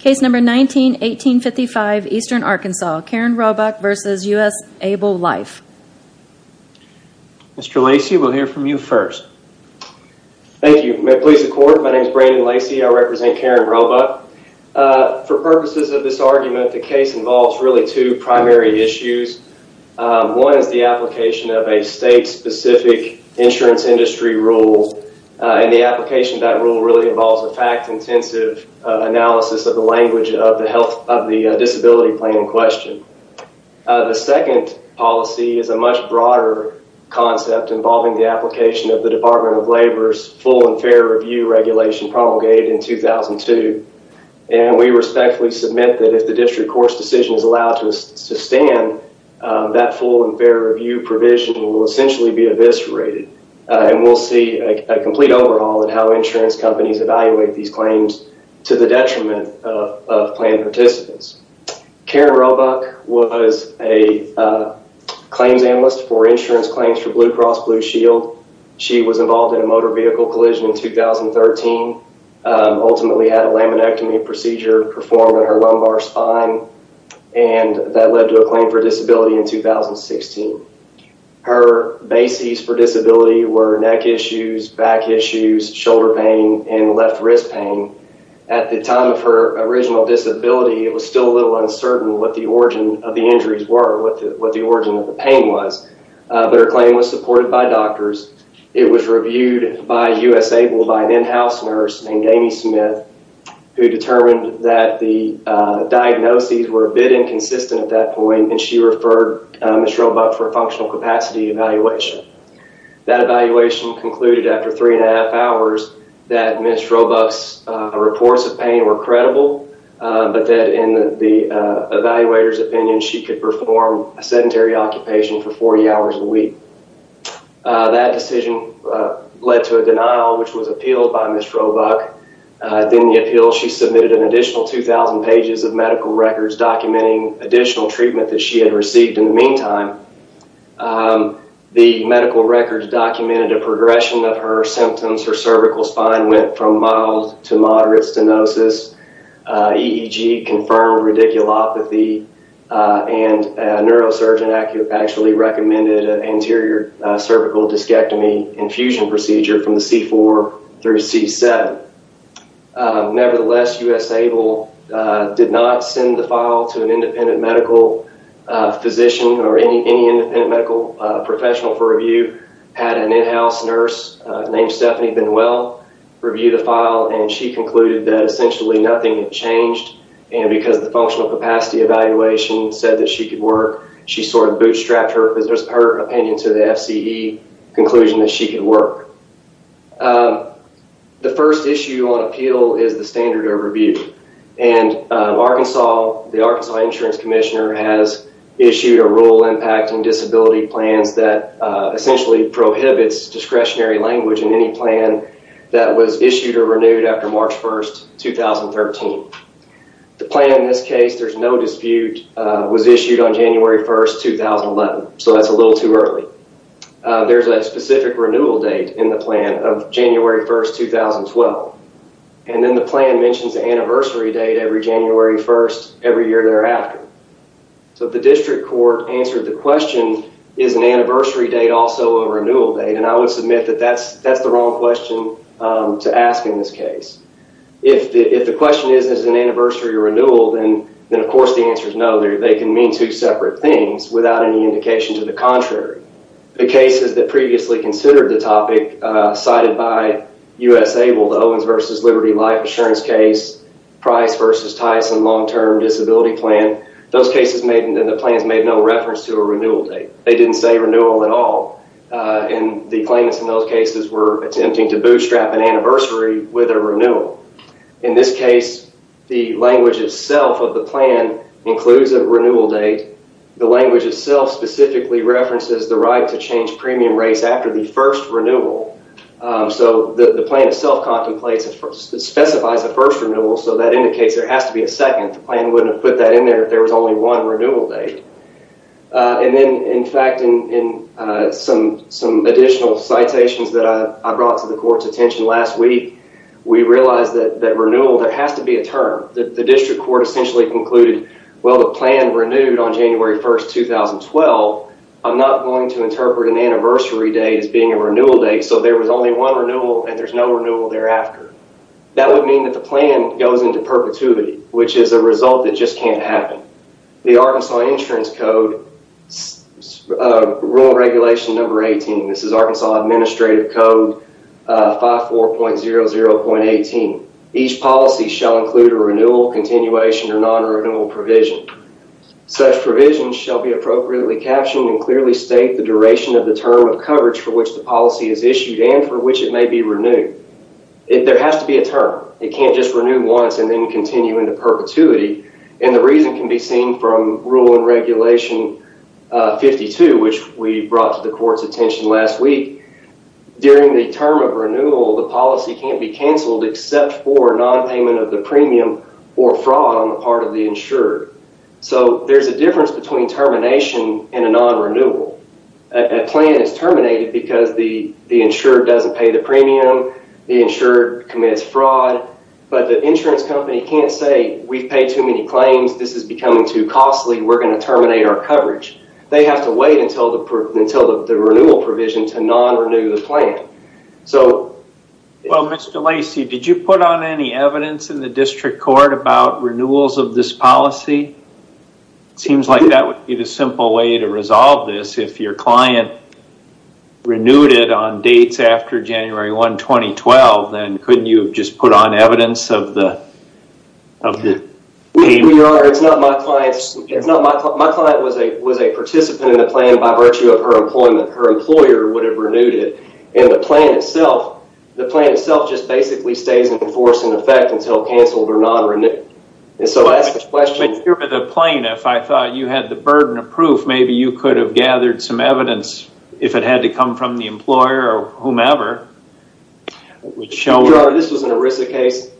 Case number 19-1855, Eastern Arkansas, Karen Roebuck v. USAble Life. Mr. Lacey, we'll hear from you first. Thank you. May it please the Court, my name is Brandon Lacey, I represent Karen Roebuck. For purposes of this argument, the case involves really two primary issues. One is the application of a state-specific insurance industry rule, and the application of that rule really involves a fact-intensive analysis of the language of the disability claim in question. The second policy is a much broader concept involving the application of the Department of Labor's full and fair review regulation promulgated in 2002. And we respectfully submit that if the district court's decision is allowed to sustain, that full and fair review provision will essentially be eviscerated. And we'll see a complete overhaul in how insurance companies evaluate these claims to the detriment of planned participants. Karen Roebuck was a claims analyst for insurance claims for Blue Cross Blue Shield. She was involved in a motor vehicle collision in 2013, ultimately had a laminectomy procedure performed on her lumbar spine, and that led to a claim for disability in 2016. Her bases for disability were neck issues, back issues, shoulder pain, and left wrist pain. At the time of her original disability, it was still a little uncertain what the origin of the injuries were, what the origin of the pain was. But her claim was supported by doctors. It was reviewed by U.S. Able by an in-house nurse named Amy Smith, who determined that the diagnoses were a bit inconsistent at that point, and she referred Ms. Roebuck for a functional capacity evaluation. That evaluation concluded after three and a half hours that Ms. Roebuck's reports of pain were credible, but that in the evaluator's opinion, she could perform a sedentary occupation for 40 hours a week. That decision led to a denial, which was appealed by Ms. Roebuck. In the appeal, she submitted an additional 2,000 pages of medical records documenting additional treatment that she had received. In the meantime, the medical records documented a progression of her symptoms. Her cervical spine went from mild to moderate stenosis, EEG confirmed radiculopathy, and a neurosurgeon actually recommended an anterior cervical discectomy infusion procedure from the C4 through C7. Nevertheless, U.S. Able did not send the file to an independent medical physician or any independent medical professional for review. Had an in-house nurse named Stephanie Benuel review the file, and she concluded that essentially nothing had changed, and because the functional capacity evaluation said that she could work, she sort of bootstrapped her opinion to the FCE conclusion that she could work. The first issue on appeal is the standard overview, and the Arkansas Insurance Commissioner has issued a rule impacting disability plans that essentially prohibits discretionary language in any plan that was issued or renewed after March 1, 2013. The plan in this case, there's no dispute, was issued on January 1, 2011, so that's a little too early. There's a specific renewal date in the plan of January 1, 2012, and then the plan mentions the anniversary date every January 1, every year thereafter. So the district court answered the question, is an anniversary date also a renewal date, and I would submit that that's the wrong question to ask in this case. If the question is, is an anniversary a renewal, then of course the answer is no. They can mean two separate things without any indication to the contrary. The cases that previously considered the topic cited by U.S. Abel, the Owens v. Liberty Life insurance case, Price v. Tyson long-term disability plan, those cases made, and the plans made no reference to a renewal date. They didn't say renewal at all, and the claimants in those cases were attempting to bootstrap an anniversary with a renewal. In this case, the language itself of the plan includes a renewal date. The language itself specifically references the right to change premium rates after the first renewal. So the plan itself specifies the first renewal, so that indicates there has to be a second. The plan wouldn't have put that in there if there was only one renewal date. And then, in fact, in some additional citations that I brought to the court's attention last week, we realized that renewal, there has to be a term. The district court essentially concluded, well, the plan renewed on January 1, 2012. I'm not going to interpret an anniversary date as being a renewal date, so there was only one renewal and there's no renewal thereafter. That would mean that the plan goes into perpetuity, which is a result that just can't happen. The Arkansas Insurance Code, Rural Regulation No. 18, this is Arkansas Administrative Code 54.00.18. Each policy shall include a renewal, continuation, or non-renewal provision. Such provisions shall be appropriately captioned and clearly state the duration of the term of coverage for which the policy is issued and for which it may be renewed. There has to be a term. It can't just renew once and then continue into perpetuity. And the reason can be seen from Rule and Regulation 52, which we brought to the court's attention last week. During the term of renewal, the policy can't be canceled except for non-payment of the premium or fraud on the part of the insured. So there's a difference between termination and a non-renewal. A plan is terminated because the insured doesn't pay the premium, the insured commits fraud, but the insurance company can't say, we've paid too many claims. This is becoming too costly. We're going to terminate our coverage. They have to wait until the renewal provision to non-renew the plan. Well, Mr. Lacey, did you put on any evidence in the district court about renewals of this policy? It seems like that would be the simple way to resolve this. If your client renewed it on dates after January 1, 2012, then couldn't you have just put on evidence of the payment? We are. It's not my client's. My client was a participant in the plan by virtue of her employment. Her employer would have renewed it. And the plan itself just basically stays in force and in effect until canceled or non-renewed. But you're the plaintiff. I thought you had the burden of proof. Maybe you could have gathered some evidence if it had to come from the employer or whomever. This was an ERISA case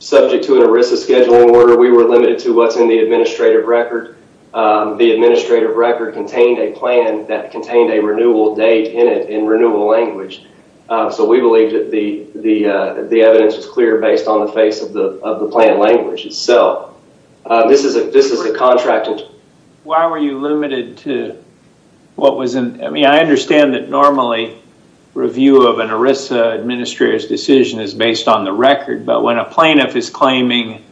subject to an ERISA scheduling order. We were limited to what's in the administrative record. The administrative record contained a plan that contained a renewal date in it in renewal language. So we believed that the evidence was clear based on the face of the plan language. So this is a contracted... Why were you limited to what was in... I mean, I understand that normally review of an ERISA administrative decision is based on the record. But when a plaintiff is claiming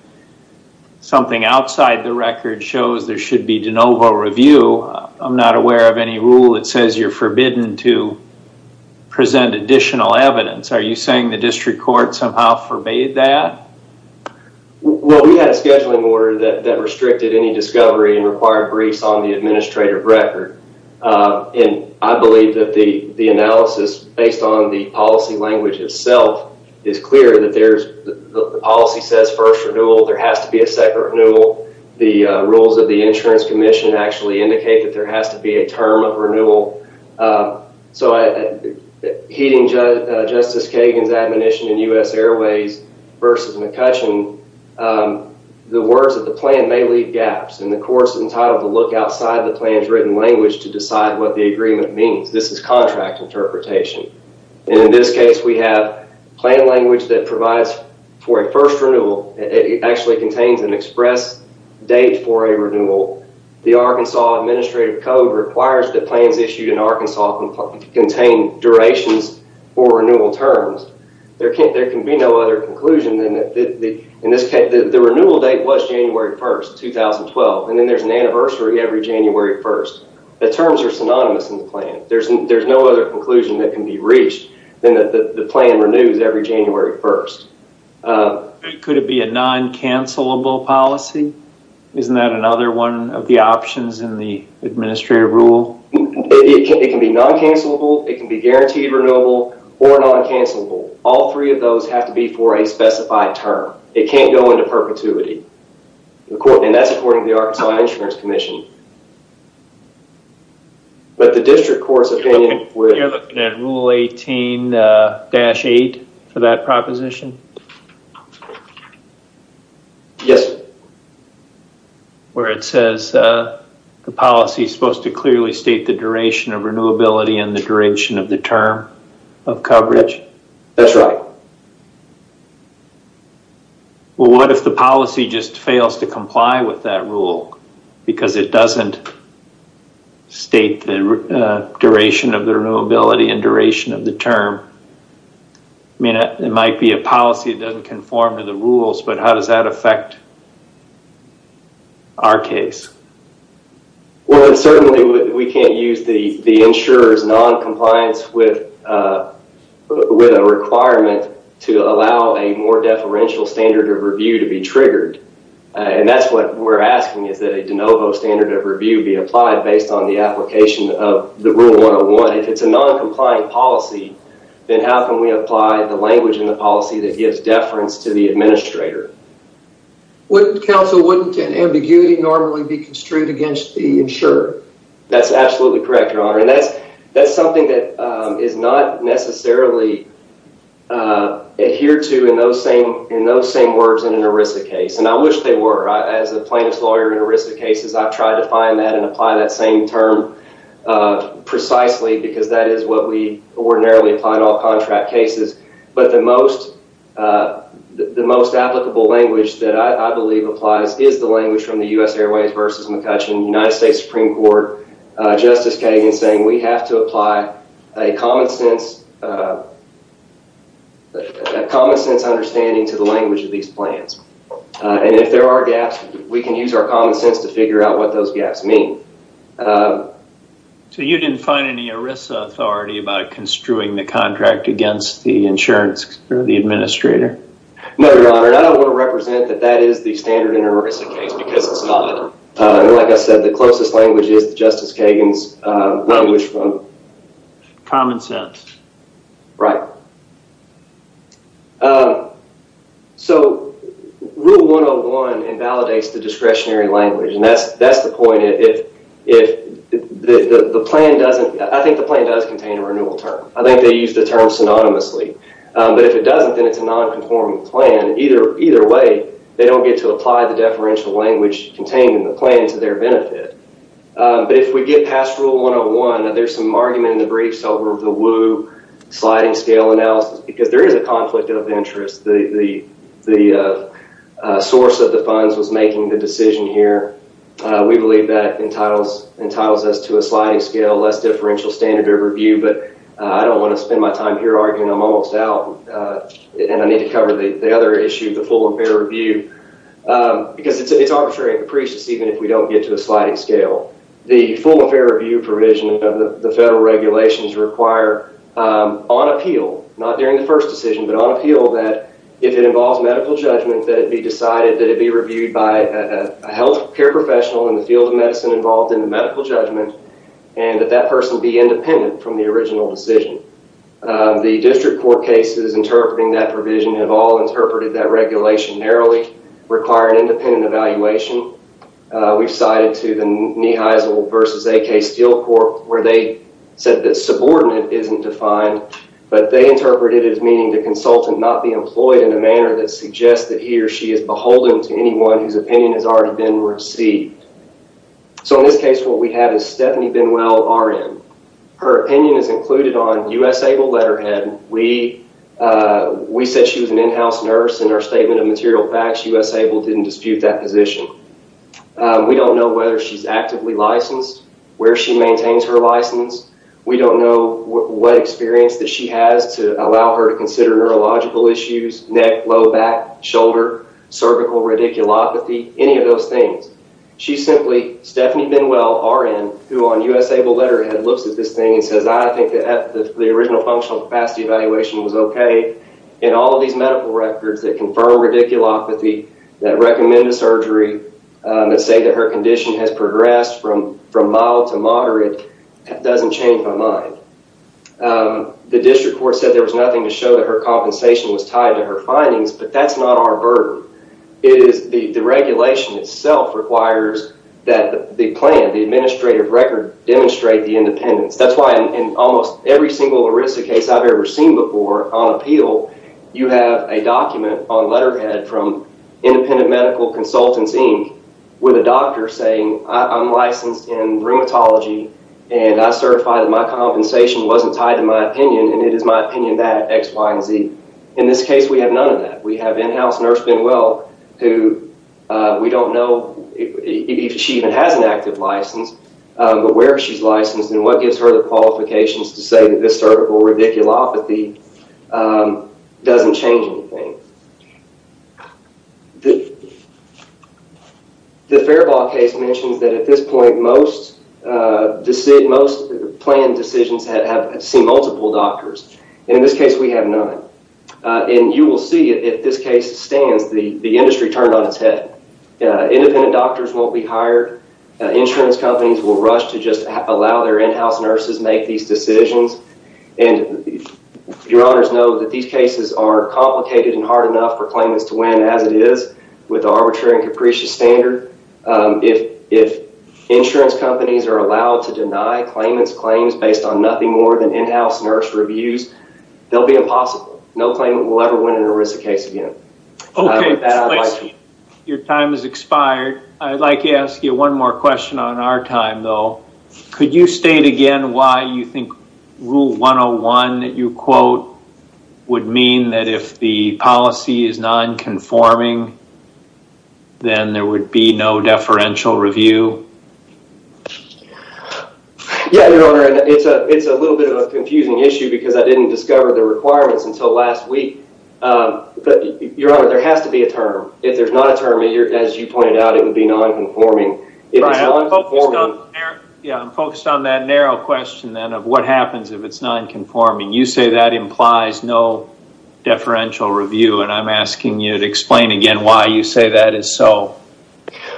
something outside the record shows there should be de novo review, I'm not aware of any rule that says you're forbidden to present additional evidence. Are you saying the district court somehow forbade that? Well, we had a scheduling order that restricted any discovery and required briefs on the administrative record. And I believe that the analysis based on the policy language itself is clear. The policy says first renewal. There has to be a second renewal. The rules of the insurance commission actually indicate that there has to be a term of renewal. So heeding Justice Kagan's admonition in U.S. Airways versus McCutcheon, the words of the plan may leave gaps. And the court's entitled to look outside the plan's written language to decide what the agreement means. This is contract interpretation. And in this case, we have plan language that provides for a first renewal. It actually contains an express date for a renewal. The Arkansas Administrative Code requires that plans issued in Arkansas contain durations for renewal terms. There can be no other conclusion than that. In this case, the renewal date was January 1st, 2012, and then there's an anniversary every January 1st. The terms are synonymous in the plan. There's no other conclusion that can be reached than that the plan renews every January 1st. Could it be a non-cancellable policy? Isn't that another one of the options in the administrative rule? It can be non-cancellable, it can be guaranteed renewable, or non-cancellable. All three of those have to be for a specified term. It can't go into perpetuity. And that's according to the Arkansas Insurance Commission. But the district court's opinion would... Rule 18-8 for that proposition? Yes. Where it says the policy is supposed to clearly state the duration of renewability and the duration of the term of coverage? That's right. Well, what if the policy just fails to comply with that rule? Because it doesn't state the duration of the renewability and duration of the term. I mean, it might be a policy that doesn't conform to the rules, but how does that affect our case? Well, certainly we can't use the insurer's non-compliance with a requirement to allow a more deferential standard of review to be triggered. And that's what we're asking, is that a de novo standard of review be applied based on the application of the Rule 101. If it's a non-compliant policy, then how can we apply the language in the policy that gives deference to the administrator? Counsel, wouldn't an ambiguity normally be construed against the insurer? That's absolutely correct, Your Honor. And that's something that is not necessarily adhered to in those same words in an ERISA case. And I wish they were. As a plaintiff's lawyer in ERISA cases, I've tried to find that and apply that same term precisely because that is what we ordinarily apply in all contract cases. But the most applicable language that I believe applies is the language from the U.S. Airways v. McCutcheon, United States Supreme Court. Justice Kagan is saying we have to apply a common sense understanding to the language of these plans. And if there are gaps, we can use our common sense to figure out what those gaps mean. So you didn't find any ERISA authority about construing the contract against the insurance or the administrator? No, Your Honor. And I don't want to represent that that is the standard in an ERISA case because it's not. And like I said, the closest language is Justice Kagan's language from... Common sense. Right. So Rule 101 invalidates the discretionary language. And that's the point. I think the plan does contain a renewal term. I think they use the term synonymously. But if it doesn't, then it's a non-conforming plan. Either way, they don't get to apply the deferential language contained in the plan to their benefit. But if we get past Rule 101, there's some argument in the briefs over the Wu sliding scale analysis because there is a conflict of interest. The source of the funds was making the decision here. We believe that entitles us to a sliding scale, less differential standard of review. But I don't want to spend my time here arguing. I'm almost out. And I need to cover the other issue, the full and fair review. Because it's arbitrary and capricious even if we don't get to a sliding scale. The full and fair review provision of the federal regulations require on appeal, not during the first decision, but on appeal that if it involves medical judgment that it be decided that it be reviewed by a health care professional in the field of medicine involved in the medical judgment and that that person be independent from the original decision. The district court cases interpreting that provision have all interpreted that regulation narrowly, require an independent evaluation. We've cited to the Niheisel v. AK Steel Corp. where they said that subordinate isn't defined, but they interpreted it as meaning the consultant not be employed in a manner that suggests that he or she is beholden to anyone whose opinion has already been received. So in this case, what we have is Stephanie Benwell, RN. Her opinion is included on U.S. ABLE letterhead. We said she was an in-house nurse in her statement of material facts. U.S. ABLE didn't dispute that position. We don't know whether she's actively licensed, where she maintains her license. We don't know what experience that she has to allow her to consider neurological issues, neck, low back, shoulder, cervical radiculopathy, any of those things. She simply, Stephanie Benwell, RN, who on U.S. ABLE letterhead looks at this thing and says, I think that the original functional capacity evaluation was okay. In all of these medical records that confirm radiculopathy, that recommend a surgery, that say that her condition has progressed from mild to moderate, that doesn't change my mind. The district court said there was nothing to show that her compensation was tied to her findings, but that's not our burden. It is the regulation itself requires that the plan, the administrative record, demonstrate the independence. That's why in almost every single ERISA case I've ever seen before on appeal, you have a document on letterhead from Independent Medical Consultants, Inc., with a doctor saying, I'm licensed in rheumatology, and I certify that my compensation wasn't tied to my opinion, and it is my opinion that X, Y, and Z. In this case, we have none of that. We have in-house nurse Benwell who we don't know if she even has an active license, but where she's licensed and what gives her the qualifications to say that this cervical radiculopathy doesn't change anything. The Fairbaugh case mentions that at this point most planned decisions have seen multiple doctors. In this case, we have none, and you will see if this case stands, the industry turned on its head. Independent doctors won't be hired. Insurance companies will rush to just allow their in-house nurses make these decisions, and your honors know that these cases are complicated and hard enough for claimants to win as it is with arbitrary and capricious standard. If insurance companies are allowed to deny claimants claims based on nothing more than in-house nurse reviews, they'll be impossible. No claimant will ever win an ERISA case again. Okay, your time has expired. I'd like to ask you one more question on our time, though. Could you state again why you think Rule 101 that you quote would mean that if the policy is non-conforming, then there would be no deferential review? Yeah, your honor, it's a little bit of a confusing issue because I didn't discover the requirements until last week. Your honor, there has to be a term. If there's not a term, as you pointed out, it would be non-conforming. Yeah, I'm focused on that narrow question then of what happens if it's non-conforming. You say that implies no deferential review, and I'm asking you to explain again why you say that is so.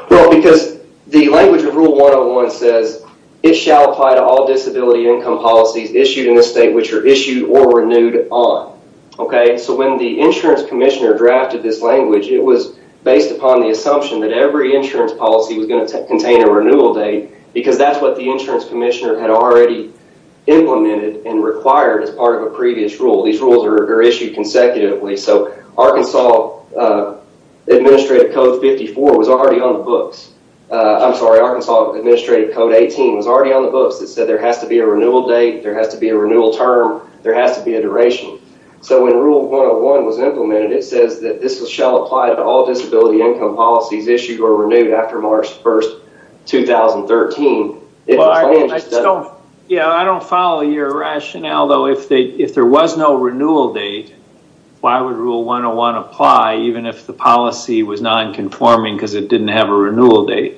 Well, because the language of Rule 101 says it shall apply to all disability income policies issued in a state which are issued or renewed on. Okay, so when the insurance commissioner drafted this language, it was based upon the assumption that every insurance policy was going to contain a renewal date because that's what the insurance commissioner had already implemented and required as part of a previous rule. These rules are issued consecutively, so Arkansas Administrative Code 54 was already on the books. I'm sorry, Arkansas Administrative Code 18 was already on the books. It said there has to be a renewal date, there has to be a renewal term, there has to be a duration. So when Rule 101 was implemented, it says that this shall apply to all disability income policies issued or renewed after March 1, 2013. Yeah, I don't follow your rationale, though. If there was no renewal date, why would Rule 101 apply even if the policy was non-conforming because it didn't have a renewal date?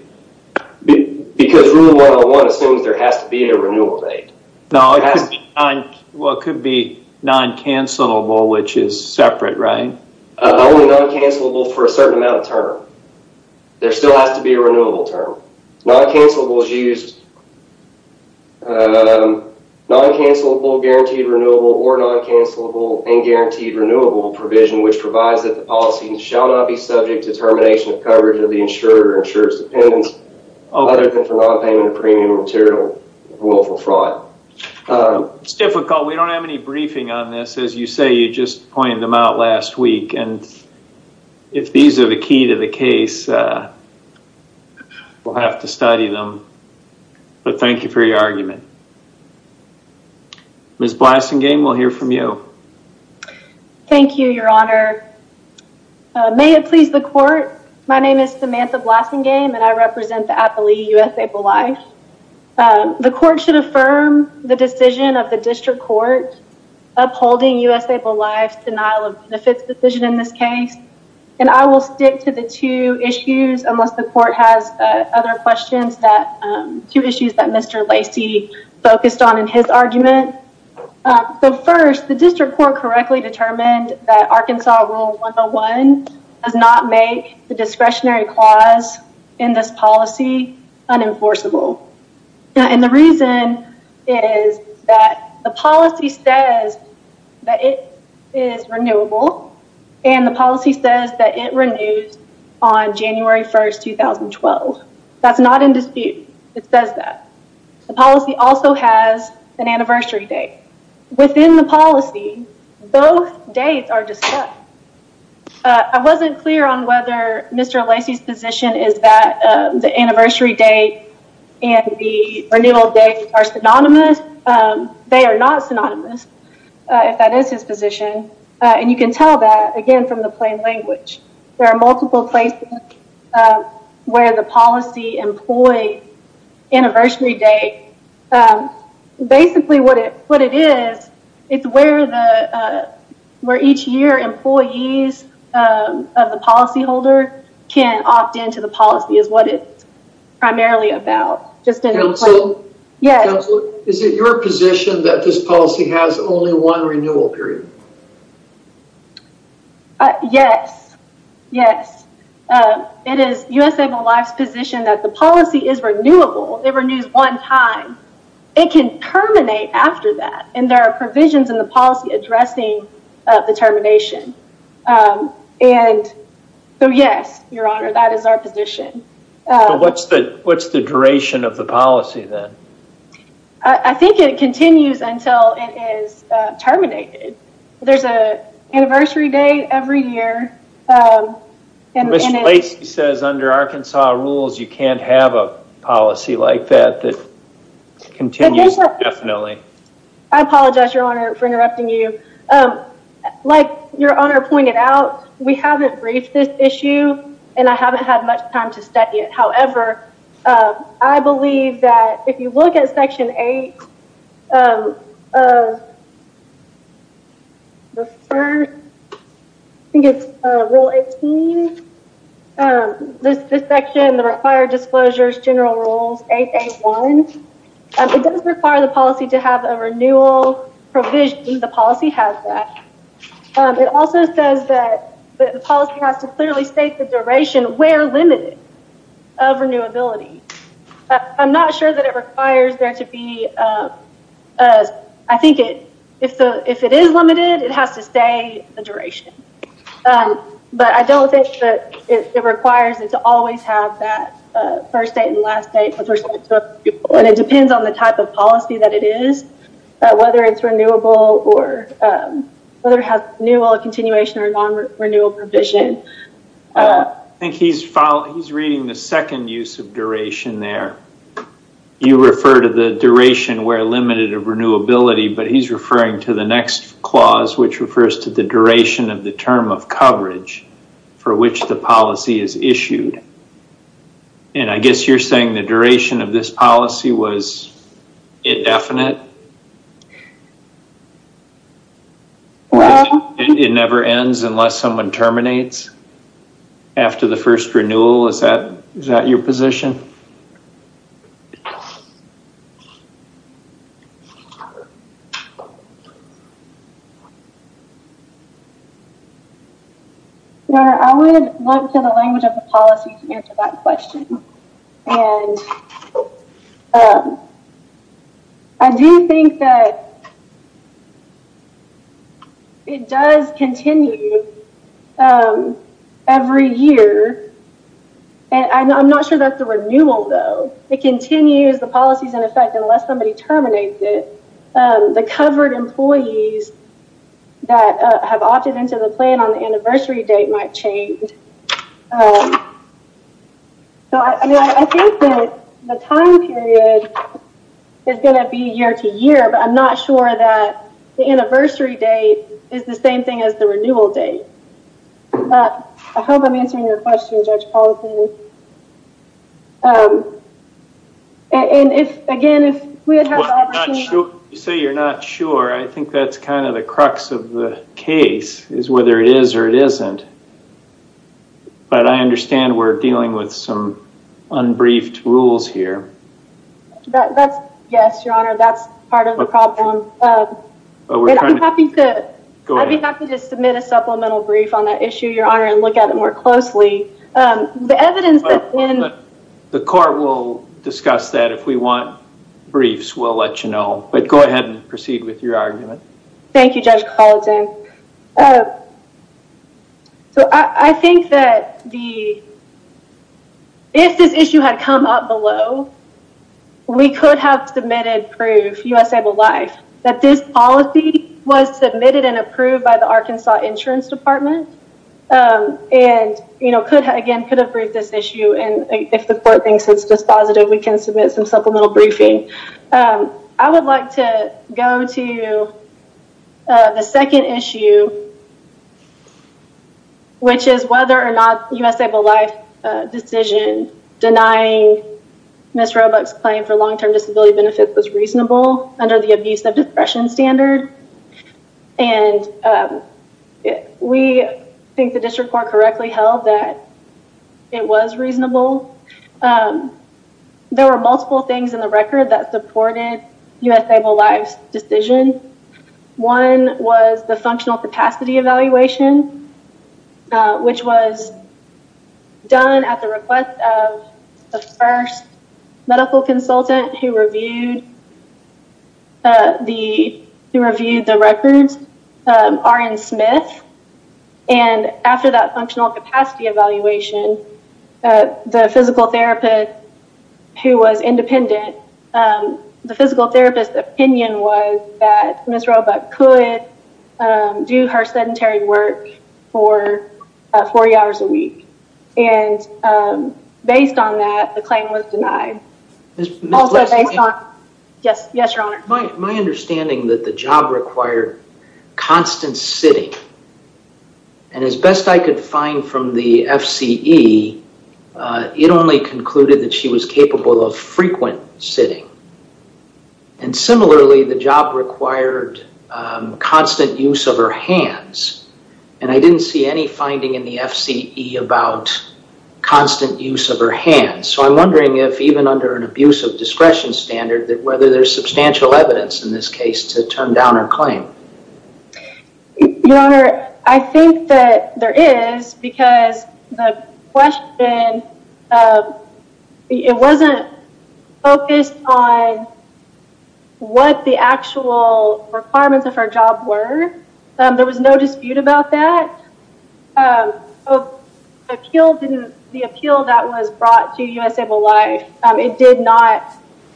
Because Rule 101 assumes there has to be a renewal date. No, it could be non-cancellable, which is separate, right? Only non-cancellable for a certain amount of term. There still has to be a renewable term. Non-cancellable is used... Non-cancellable, guaranteed renewable, or non-cancellable and guaranteed renewable provision, which provides that the policy shall not be subject to termination of coverage of the insurer or insurer's dependents other than for non-payment of premium material ruleful fraud. It's difficult. We don't have any briefing on this. As you say, you just pointed them out last week, and if these are the key to the case, we'll have to study them. But thank you for your argument. Ms. Blasingame, we'll hear from you. Thank you, Your Honor. May it please the Court, my name is Samantha Blasingame, and I represent the Appalachee U.S. Able Life. The Court should affirm the decision of the District Court upholding U.S. Able Life's denial of benefits decision in this case. And I will stick to the two issues, unless the Court has other questions, two issues that Mr. Lacey focused on in his argument. So first, the District Court correctly determined that Arkansas Rule 101 does not make the discretionary clause in this policy unenforceable. And the reason is that the policy says that it is renewable, and the policy says that it renews on January 1, 2012. That's not in dispute. It says that. The policy also has an anniversary date. Within the policy, both dates are discussed. I wasn't clear on whether Mr. Lacey's position is that the anniversary date and the renewal date are synonymous. They are not synonymous, if that is his position. And you can tell that, again, from the plain language. There are multiple places where the policy employs anniversary date. Basically, what it is, it's where each year employees of the policyholder can opt into the policy, is what it's primarily about. Counselor, is it your position that this policy has only one renewal period? Yes, yes. It is USABLE Life's position that the policy is renewable. It renews one time. It can terminate after that, and there are provisions in the policy addressing the termination. So yes, Your Honor, that is our position. So what's the duration of the policy, then? I think it continues until it is terminated. There's an anniversary date every year. Mr. Lacey says under Arkansas rules, you can't have a policy like that that continues indefinitely. I apologize, Your Honor, for interrupting you. Like Your Honor pointed out, we haven't briefed this issue, and I haven't had much time to study it. I believe that if you look at Section 8 of Rule 18, this section, the required disclosures, General Rules 8.8.1, it does require the policy to have a renewal provision. The policy has that. It also says that the policy has to clearly state the duration, where limited, of renewability. I'm not sure that it requires there to be, I think if it is limited, it has to say the duration. But I don't think that it requires it to always have that first date and last date with respect to other people. It depends on the type of policy that it is, whether it's renewable or whether it has renewal, continuation, or non-renewal provision. I think he's reading the second use of duration there. You refer to the duration, where limited, of renewability, but he's referring to the next clause, which refers to the duration of the term of coverage for which the policy is issued. And I guess you're saying the duration of this policy was indefinite? It never ends unless someone terminates? After the first renewal, is that your position? Your Honor, I would look to the language of the policy to answer that question. And I do think that it does continue every year. And I'm not sure that's the word. It continues, the policy's in effect unless somebody terminates it. The covered employees that have opted into the plan on the anniversary date might change. I think that the time period is going to be year to year, but I'm not sure that the anniversary date is the same thing as the renewal date. I hope I'm answering your question, Judge Paulson. And again, if we had had the opportunity... You say you're not sure, I think that's kind of the crux of the case, is whether it is or it isn't. But I understand we're dealing with some unbriefed rules here. Yes, Your Honor, that's part of the problem. I'd be happy to submit a supplemental brief on that issue, Your Honor, and look at it more closely. The evidence that's in... The court will discuss that. If we want briefs, we'll let you know. But go ahead and proceed with your argument. Thank you, Judge Paulson. I think that if this issue had come up below, we could have submitted proof, U.S. Able Life, that this policy was submitted and approved by the Arkansas Insurance Department. And again, could have briefed this issue. And if the court thinks it's dispositive, we can submit some supplemental briefing. I would like to go to the second issue, which is whether or not U.S. Able Life's decision denying Ms. Roebuck's claim for long-term disability benefits was reasonable under the abuse of depression standard. And we think the district court correctly held that it was reasonable. There were multiple things in the record that supported U.S. Able Life's decision. One was the functional capacity evaluation, which was done at the request of the first medical consultant who reviewed the records, R.N. Smith. And after that functional capacity evaluation, the physical therapist, who was independent, the physical therapist's opinion was that Ms. Roebuck could do her sedentary work for 40 hours a week. And based on that, the claim was denied. Yes, Your Honor. My understanding that the job required constant sitting. And as best I could find from the FCE, it only concluded that she was capable of frequent sitting. And similarly, the job required constant use of her hands. And I didn't see any finding in the FCE about constant use of her hands. So I'm wondering if even under an abuse of discretion standard, whether there's substantial evidence in this case to turn down her claim. Your Honor, I think that there is, because the question, it wasn't focused on what the actual requirements of her job were. There was no dispute about that. The appeal that was brought to U.S. Able Life, it did not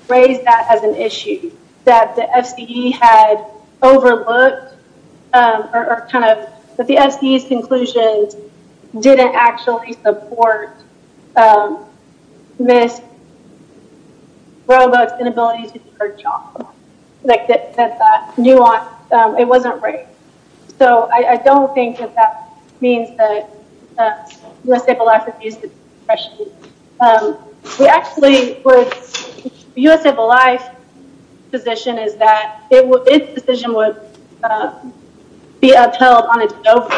raise that as an issue. That the FCE had overlooked, or kind of, that the FCE's conclusions didn't actually support Ms. Roebuck's inability to do her job. That that nuance, it wasn't raised. So I don't think that that means that U.S. Able Life refused the discretion. We actually, U.S. Able Life's position is that its decision would be upheld on its own.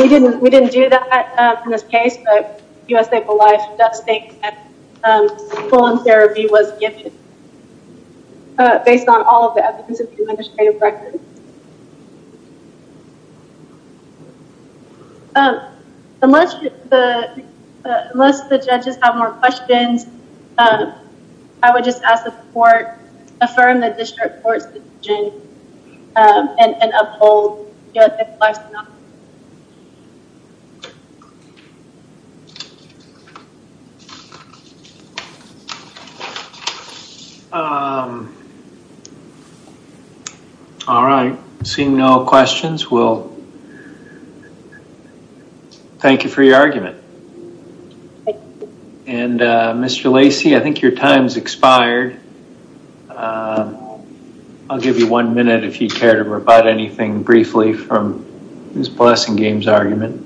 We didn't do that in this case, but U.S. Able Life does think that full-on therapy was given. Based on all of the evidence of administrative records. Unless the judges have more questions, I would just ask the court to affirm the district court's decision and uphold U.S. Able Life's position. Thank you. All right. Seeing no questions, we'll thank you for your argument. And Mr. Lacey, I think your time's expired. I'll give you one minute if you care to provide anything briefly from Ms. Blessingame's argument.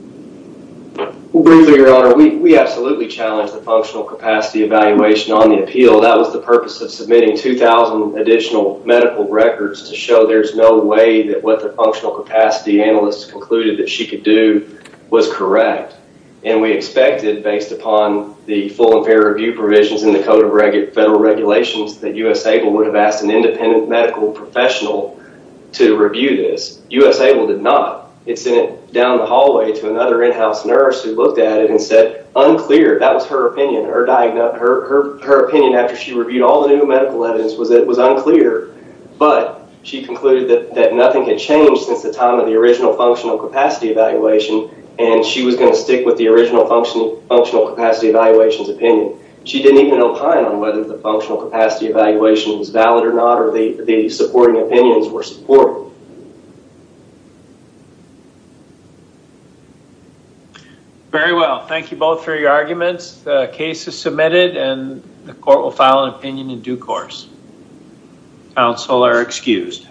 Well, briefly, Your Honor, we absolutely challenged the functional capacity evaluation on the appeal. That was the purpose of submitting 2,000 additional medical records to show there's no way that what the functional capacity analyst concluded that she could do was correct. And we expected, based upon the full and fair review provisions in the Code of Federal Regulations, that U.S. Able would have asked an independent medical professional to review this. U.S. Able did not. It sent it down the hallway to another in-house nurse who looked at it and said, unclear. That was her opinion. Her opinion after she reviewed all the new medical evidence was that it was unclear. But she concluded that nothing had changed since the time of the original functional capacity evaluation and she was going to stick with the original functional capacity evaluation's opinion. She didn't even opine on whether the functional capacity evaluation was valid or not or the supporting opinions were supported. Very well. Thank you both for your arguments. The case is submitted and the court will file an opinion in due course. Counsel are excused.